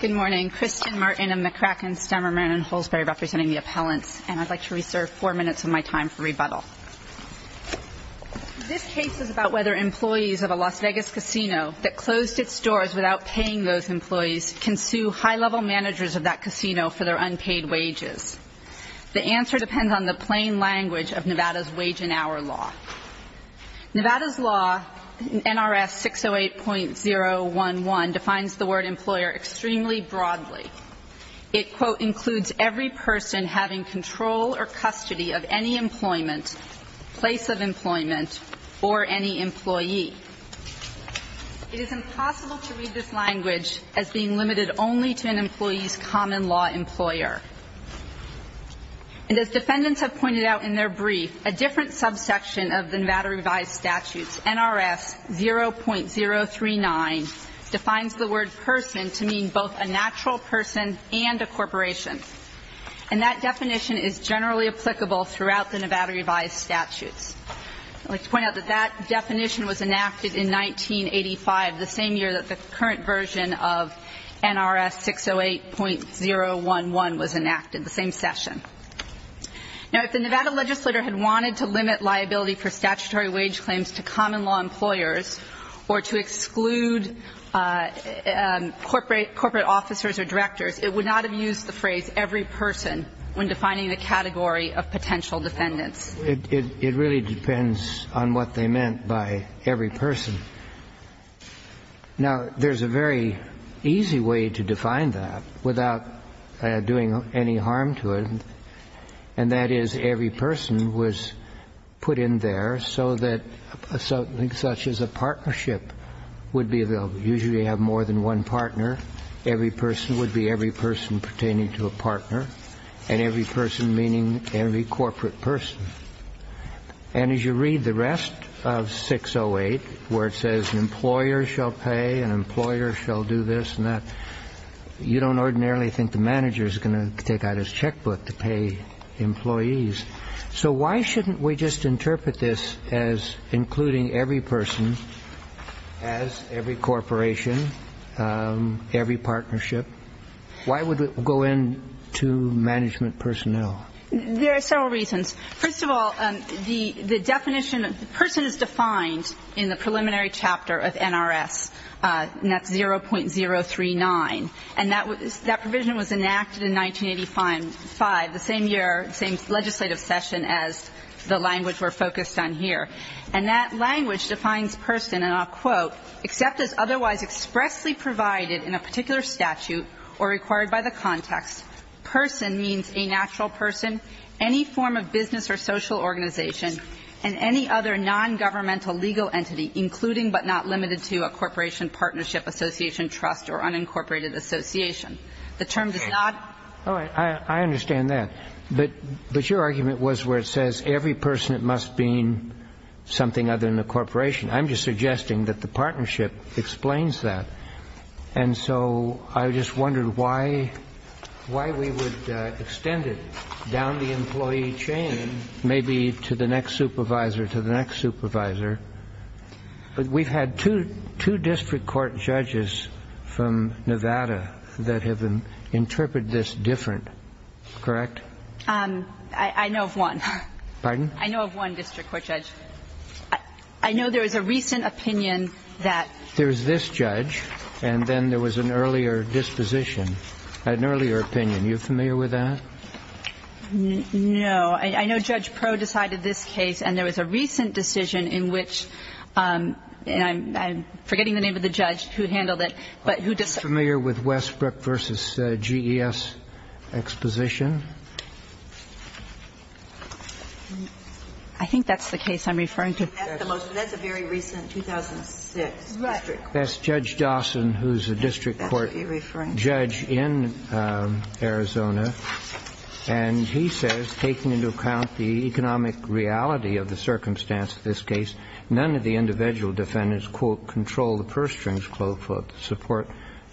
Good morning, Kristin Martin and McCracken Stemmerman and Holsberry representing the appellants and I'd like to reserve four minutes of my time for rebuttal. This case is about whether employees of a Las Vegas casino that closed its doors without paying those employees can sue high-level managers of that casino for their unpaid wages. The answer depends on the plain language of Nevada's wage and hour law. Nevada's law, NRS 608.011, defines the word employer extremely broadly. It, quote, includes every person having control or custody of any employment, place of employment, or any employee. It is impossible to read this language as being limited only to an employee's common law employer and as defendants have pointed out in their brief, a different subsection of the Nevada revised statutes, NRS 0.039, defines the word person to mean both a natural person and a corporation and that definition is generally applicable throughout the Nevada revised statutes. I'd like to point out that that definition was enacted in 1985, the same year that the current version of NRS 608.011 was enacted, the same session. Now, if the Nevada legislator had wanted to limit liability for statutory wage claims to common law employers or to exclude corporate officers or directors, it would not have used the phrase every person when defining the category of potential defendants. It really depends on what they meant by every person. Now, there's a very easy way to define that without doing any harm to it. And that is every person was put in there so that something such as a partnership would be available. Usually, you have more than one partner. Every person would be every person pertaining to a partner and every person meaning every corporate person. And as you read the rest of 608, where it says an employer shall pay, an employer shall do this and that, you don't ordinarily think the manager is going to take out his checkbook to pay employees. So why shouldn't we just interpret this as including every person as every corporation, every partnership? Why would it go in to management personnel? There are several reasons. First of all, the definition of person is defined in the preliminary chapter of NRS, and that's 0.039. And that provision was enacted in 1985, the same year, the same legislative session as the language we're focused on here. And that language defines person, and I'll quote, "...except as otherwise expressly provided in a particular statute or required by the context, person means a natural person, any form of business or social organization, and any other nongovernmental legal entity, including but not limited to a corporation, partnership, association, trust, or unincorporated association." The term does not... All right. I understand that. But your argument was where it says every person must mean something other than a corporation. I'm just suggesting that the partnership explains that. And so I just wondered why we would extend it down the employee chain, maybe to the next supervisor, to the next supervisor. We've had two district court judges from Nevada that have interpreted this different. Correct? I know of one. Pardon? I know of one district court judge. I know there was a recent opinion that... There was this judge, and then there was an earlier disposition, an earlier opinion. Are you familiar with that? No. I know Judge Proh decided this case, and there was a recent decision in which the judge, who handled it, but who decided... Are you familiar with Westbrook v. GES exposition? I think that's the case I'm referring to. That's a very recent 2006 district court. That's Judge Dawson, who's a district court judge in Arizona. And he says, taking into account the economic reality of the circumstance of this case, none of the individual defendants, quote, control the purse strings, quote, quote, support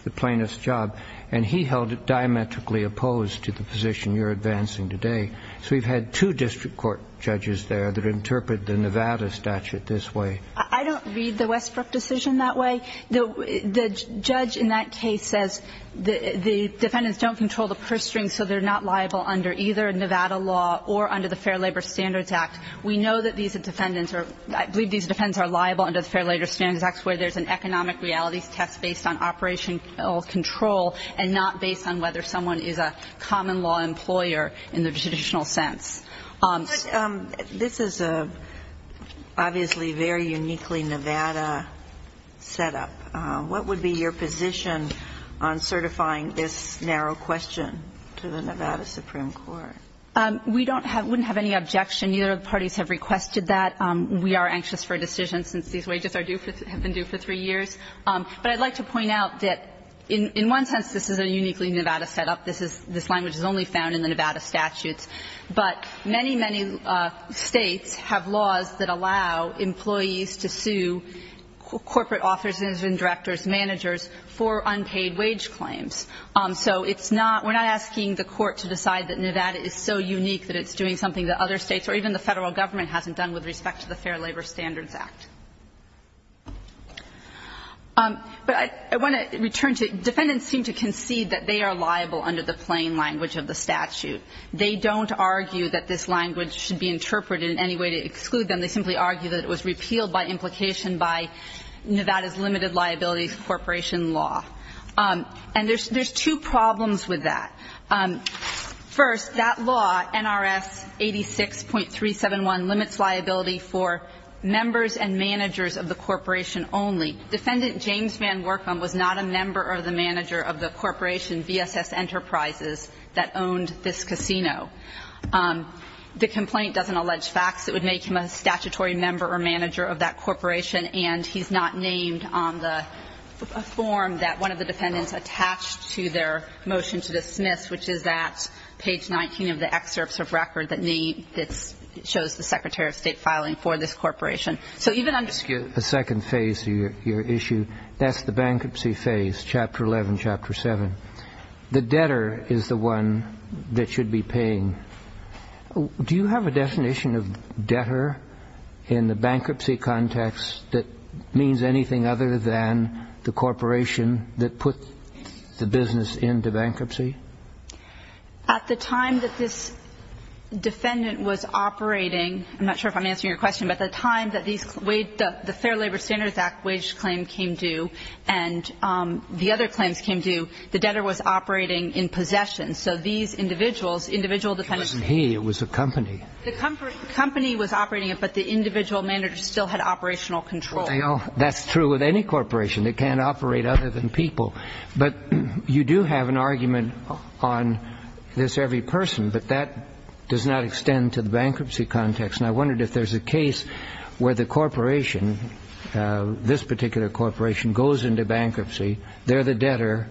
the plaintiff's job, and he held it diametrically opposed to the position you're advancing today. So we've had two district court judges there that interpret the Nevada statute this way. I don't read the Westbrook decision that way. The judge in that case says the defendants don't control the purse strings, so they're not liable under either Nevada law or under the Fair Labor Standards Act. We know that these defendants are, I believe these defendants are liable under the Fair Labor Standards Act, where there's an economic reality test based on operational control and not based on whether someone is a common law employer in the traditional sense. This is obviously a very uniquely Nevada setup. What would be your position on certifying this narrow question to the Nevada Supreme Court? We don't have – wouldn't have any objection. Neither of the parties have requested that. We are anxious for a decision since these wages are due for – have been due for three years. But I'd like to point out that in one sense, this is a uniquely Nevada setup. This is – this language is only found in the Nevada statutes. But many, many States have laws that allow employees to sue corporate officers and directors, managers for unpaid wage claims. So it's not – we're not asking the Court to decide that Nevada is so unique that it's doing something that other States or even the Federal Government hasn't done with respect to the Fair Labor Standards Act. But I want to return to – defendants seem to concede that they are liable under the plain language of the statute. They don't argue that this language should be interpreted in any way to exclude them. They simply argue that it was repealed by implication by Nevada's limited liabilities corporation law. And there's two problems with that. First, that law, NRS 86.371, limits liability for members and managers of the corporation only. Defendant James Van Workham was not a member or the manager of the corporation VSS Enterprises that owned this casino. The complaint doesn't allege facts that would make him a statutory member or manager of that corporation. And he's not named on the form that one of the defendants attached to their motion to dismiss, which is at page 19 of the excerpts of record that name – that shows the Secretary of State filing for this corporation. So even under the second phase of your issue, that's the bankruptcy phase, Chapter 11, Chapter 7. The debtor is the one that should be paying. Do you have a definition of debtor in the bankruptcy context that means anything other than the corporation that put the business into bankruptcy? At the time that this defendant was operating, I'm not sure if I'm answering your question, but the time that these – the Fair Labor Standards Act wage claim came due and the other claims came due, the debtor was operating in possession. So these individuals, individual defendants – It wasn't he. It was a company. The company was operating it, but the individual manager still had operational control. They all – that's true with any corporation. It can't operate other than people. But you do have an argument on this every person, but that does not extend to the bankruptcy context. I wondered if there's a case where the corporation, this particular corporation goes into bankruptcy, they're the debtor,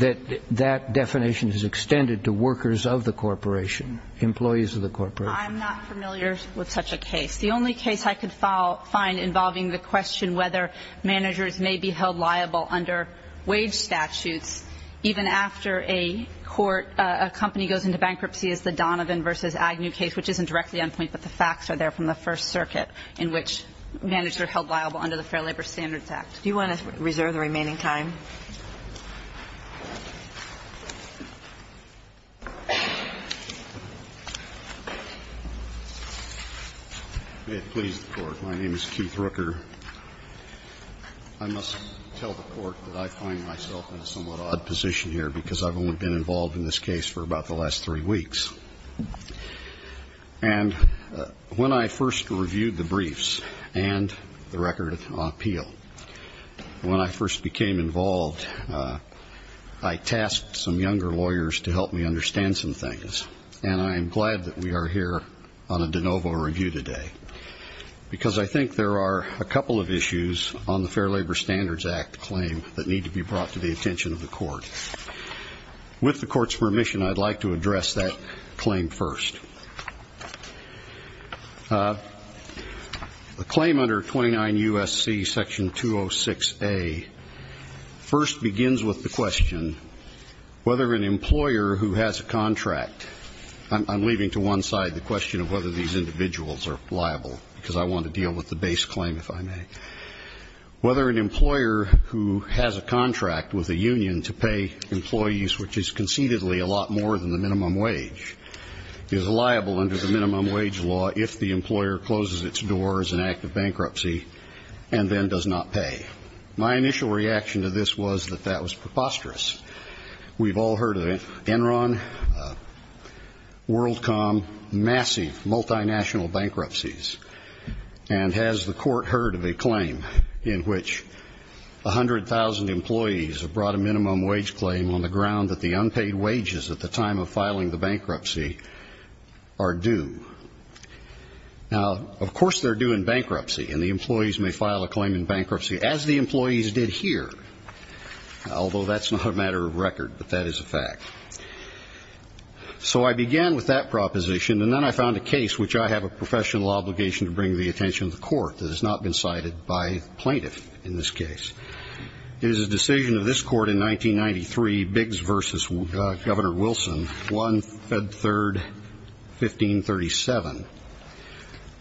that that definition is extended to workers of the corporation, employees of the corporation. I'm not familiar with such a case. The only case I could find involving the question whether managers may be held liable under wage statutes even after a court – a company goes into bankruptcy is the Donovan v. Agnew case, which isn't directly on point, but the facts are there from the First Circuit in which managers are held liable under the Fair Labor Standards Act. Do you want to reserve the remaining time? May it please the Court. My name is Keith Rooker. I must tell the Court that I find myself in a somewhat odd position here because I've only been involved in this case for about the last three weeks. And when I first reviewed the briefs and the record of appeal, when I first became involved, I tasked some younger lawyers to help me understand some things. And I am glad that we are here on a de novo review today because I think there are a couple of issues on the Fair Labor Standards Act claim that need to be brought to the attention of the Court. With the Court's permission, I'd like to address that claim first. The claim under 29 U.S.C. section 206A first begins with the question whether an employer who has a contract – I'm leaving to one side the question of whether these individuals are liable because I want to deal with the base claim, if I may – whether an employer who has a contract with a union to pay employees, which is concededly a lot more than the minimum wage, is liable under the minimum wage law if the employer closes its door as an act of bankruptcy and then does not pay. My initial reaction to this was that that was preposterous. We've all heard of Enron, WorldCom, massive multinational bankruptcies. And has the Court heard of a claim in which 100,000 employees have brought a minimum wage claim on the ground that the unpaid wages at the time of filing the bankruptcy are due? Now, of course they're due in bankruptcy and the employees may file a claim in bankruptcy as the employees did here, although that's not a matter of record, but that is a fact. So I began with that proposition and then I found a case which I have a professional obligation to bring to the attention of the Court that has not been cited by plaintiff in this case. It is a decision of this Court in 1993, Biggs v. Governor Wilson, 1 Feb. 3, 1537.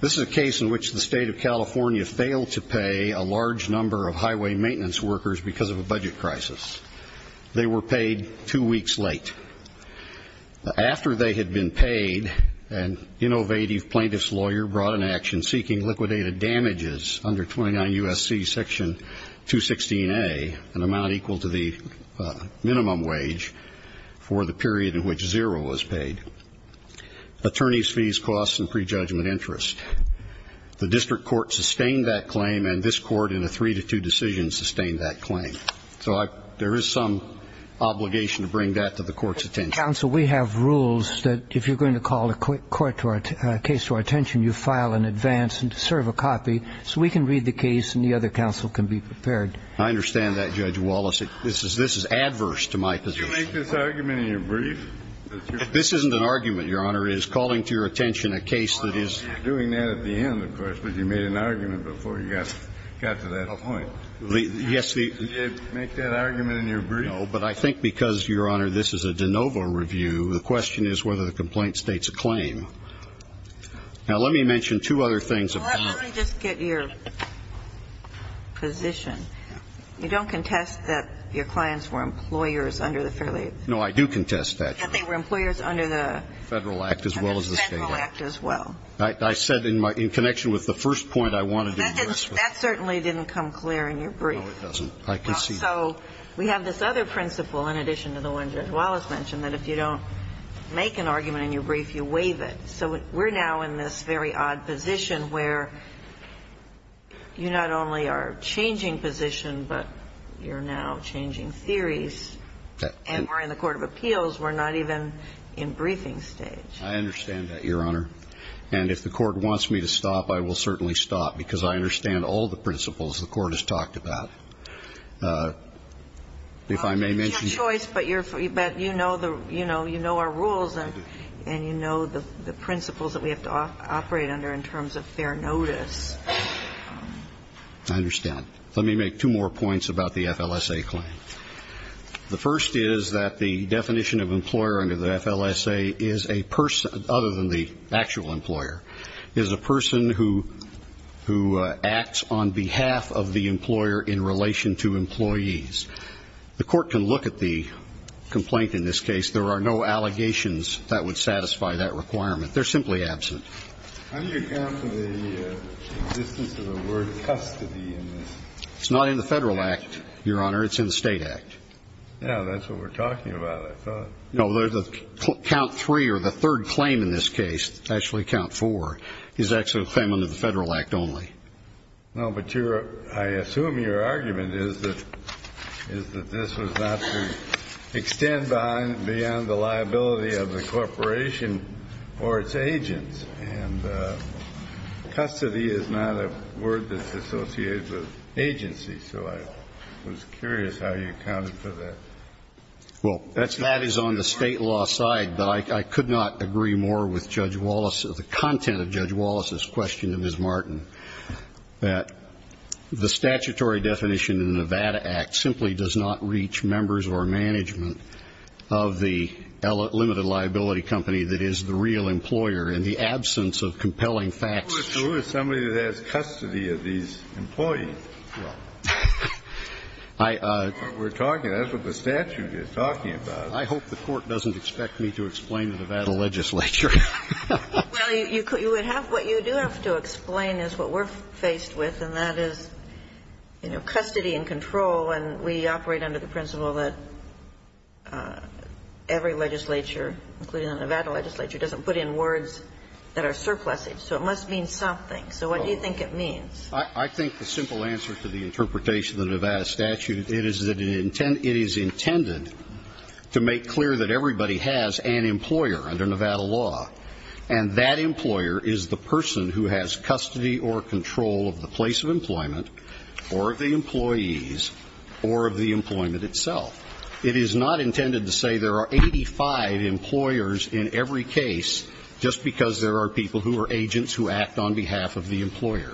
This is a case in which the state of California failed to pay a large number of highway maintenance workers because of a budget crisis. They were paid two weeks late. After they had been paid, an innovative plaintiff's lawyer brought an action seeking liquidated damages under 29 U.S.C. section 216A, an amount equal to the minimum wage for the period in which zero was paid. Attorneys' fees, costs, and prejudgment interest. The District Court sustained that claim and this Court in a three to two decision sustained that claim. So there is some obligation to bring that to the Court's attention. Counsel, we have rules that if you're going to call a court or a case to our attention, you file an advance and serve a copy so we can read the case and the other counsel can be prepared. I understand that, Judge Wallace. This is adverse to my position. Did you make this argument in your brief? This isn't an argument, Your Honor. It is calling to your attention a case that is. You're doing that at the end, of course, but you made an argument before you got to that point. Yes, the. Did you make that argument in your brief? No, but I think because, Your Honor, this is a de novo review, the question is whether the complaint states a claim. Now, let me mention two other things. Well, let me just get your position. You don't contest that your clients were employers under the Fair Labor Act. No, I do contest that. That they were employers under the Federal Act as well as the State Act. Federal Act as well. I said in connection with the first point I wanted to address. That certainly didn't come clear in your brief. No, it doesn't. I concede. So we have this other principle in addition to the one Judge Wallace mentioned, that if you don't make an argument in your brief, you waive it. So we're now in this very odd position where you not only are changing position, but you're now changing theories. And we're in the court of appeals. We're not even in briefing stage. I understand that, Your Honor. And if the court wants me to stop, I will certainly stop. Because I understand all the principles the court has talked about. If I may mention. You have choice, but you know our rules. And you know the principles that we have to operate under in terms of fair notice. I understand. Let me make two more points about the FLSA claim. The first is that the definition of employer under the FLSA is a person, other than the actual employer, is a person who acts on behalf of the employer in relation to employees. The court can look at the complaint in this case. There are no allegations that would satisfy that requirement. They're simply absent. How do you account for the existence of the word custody in this? It's not in the Federal Act, Your Honor. It's in the State Act. Yeah, that's what we're talking about, I thought. No, count three or the third claim in this case, actually count four, is actually a claim under the Federal Act only. No, but I assume your argument is that this was not to extend beyond the liability of the corporation or its agents. And custody is not a word that's associated with agency. So I was curious how you accounted for that. Well, that is on the state law side. But I could not agree more with Judge Wallace, the content of Judge Wallace's question to Ms. Martin, that the statutory definition in the Nevada Act simply does not reach members or management of the limited liability company that is the real employer in the absence of compelling facts. Who is somebody that has custody of these employees? Well, I we're talking, that's what the statute is talking about. I hope the Court doesn't expect me to explain to the Nevada legislature. Well, you would have to explain is what we're faced with, and that is, you know, custody and control. And we operate under the principle that every legislature, including the Nevada legislature, doesn't put in words that are surplusing. So it must mean something. So what do you think it means? I think the simple answer to the interpretation of the Nevada statute, it is that it is intended to make clear that everybody has an employer under Nevada law. And that employer is the person who has custody or control of the place of employment, or of the employees, or of the employment itself. It is not intended to say there are 85 employers in every case, just because there are people who are agents who act on behalf of the employer.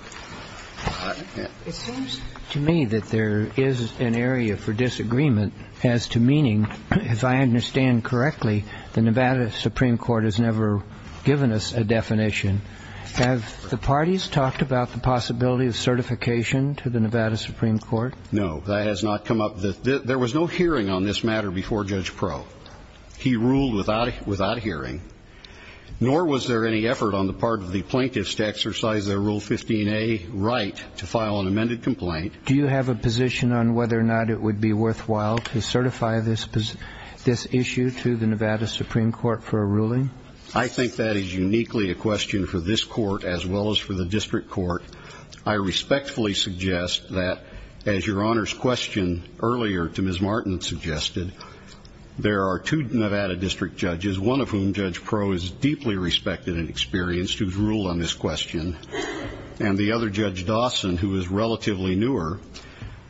It seems to me that there is an area for disagreement as to meaning. If I understand correctly, the Nevada Supreme Court has never given us a definition. Have the parties talked about the possibility of certification to the Nevada Supreme Court? No, that has not come up. There was no hearing on this matter before Judge Pro. He ruled without hearing, nor was there any effort on the part of the plaintiffs to exercise their Rule 15a right to file an amended complaint. Do you have a position on whether or not it would be worthwhile to certify this issue to the Nevada Supreme Court for a ruling? I think that is uniquely a question for this court, as well as for the district court. I respectfully suggest that, as Your Honor's question earlier to Ms. Martin suggested, there are two Nevada district judges, one of whom, Judge Pro, is a relatively new question, and the other, Judge Dawson, who is relatively newer,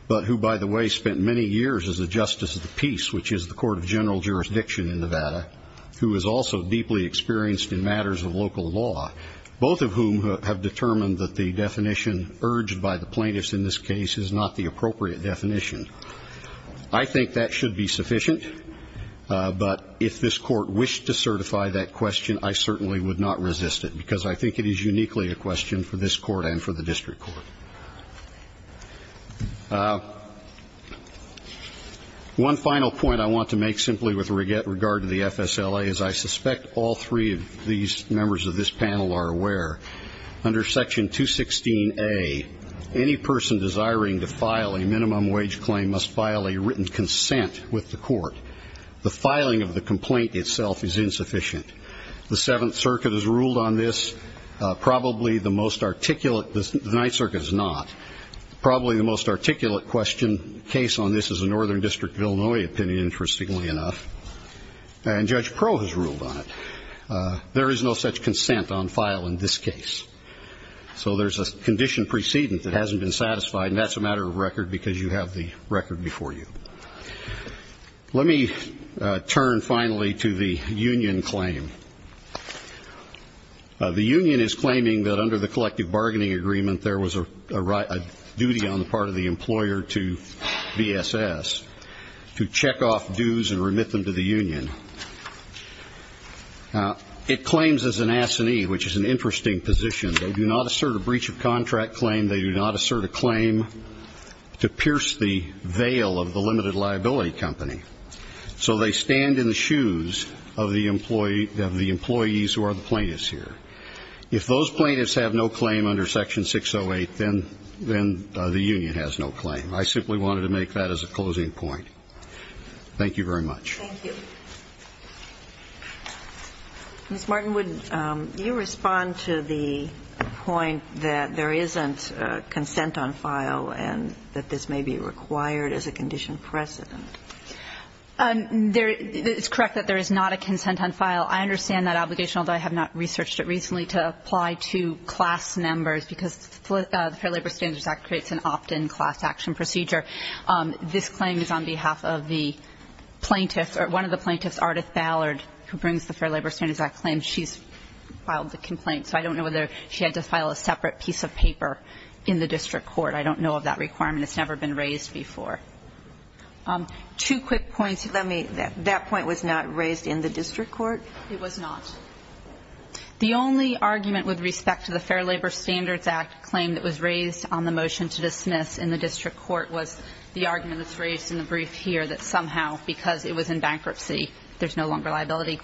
but who, by the way, spent many years as a justice of the peace, which is the Court of General Jurisdiction in Nevada, who is also deeply experienced in matters of local law, both of whom have determined that the definition urged by the plaintiffs in this case is not the appropriate definition. I think that should be sufficient, but if this court wished to certify that question, I certainly would not resist it, because I think it is uniquely a question for this court and for the district court. One final point I want to make, simply with regard to the FSLA, is I suspect all three of these members of this panel are aware, under Section 216a, any person desiring to file a minimum wage claim must file a written consent with the court. The filing of the complaint itself is insufficient. The Seventh Circuit has ruled on this. Probably the most articulate, the Ninth Circuit has not, probably the most articulate question, case on this as a Northern District of Illinois opinion, interestingly enough, and Judge Pro has ruled on it. There is no such consent on file in this case. So there's a condition precedent that hasn't been satisfied, and that's a matter of record, because you have the record before you. Let me turn, finally, to the union claim. The union is claiming that under the collective bargaining agreement, there was a duty on the part of the employer to VSS to check off dues and remit them to the union. It claims as an assignee, which is an interesting position. They do not assert a breach of contract claim. They do not assert a claim to pierce the veil of the limited liability company. So they stand in the shoes of the employees who are the plaintiffs here. If those plaintiffs have no claim under Section 608, then the union has no claim. I simply wanted to make that as a closing point. Thank you very much. Thank you. Ms. Martin, would you respond to the point that there isn't consent on file and that this may be required as a condition precedent? It's correct that there is not a consent on file. I understand that obligation, although I have not researched it recently, to apply to class members, because the Fair Labor Standards Act creates an opt-in class action procedure. This claim is on behalf of the plaintiff or one of the plaintiffs, Ardith Ballard, who brings the Fair Labor Standards Act claim. She's filed the complaint, so I don't know whether she had to file a separate piece of paper in the district court. I don't know of that requirement. It's never been raised before. Two quick points. Let me – that point was not raised in the district court? It was not. The only argument with respect to the Fair Labor Standards Act claim that was raised on the motion to dismiss in the district court was the argument that's raised in the brief here that somehow, because it was in bankruptcy, there's no longer liability.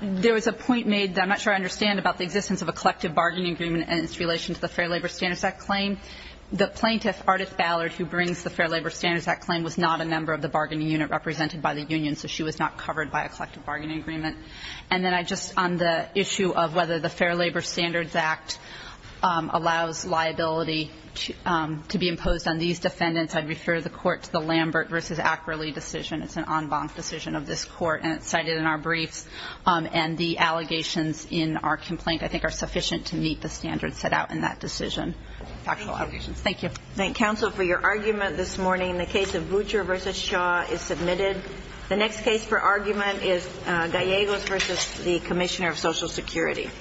There was a point made that I'm not sure I understand about the existence of a collective bargaining agreement and its relation to the Fair Labor Standards Act claim. The plaintiff, Ardith Ballard, who brings the Fair Labor Standards Act claim was not a member of the bargaining unit represented by the union, so she was not covered by a collective bargaining agreement. And then I just – on the issue of whether the Fair Labor Standards Act allows liability to be imposed on these defendants, I'd refer the court to the Lambert v. Ackerley decision. It's an en banc decision of this court, and it's cited in our briefs. And the allegations in our complaint, I think, are sufficient to meet the standards set out in that decision, factual allegations. Thank you. Thank you, counsel, for your argument this morning. The case of Butcher v. Shaw is submitted. The next case for argument is Gallegos v. the Commissioner of Social Security.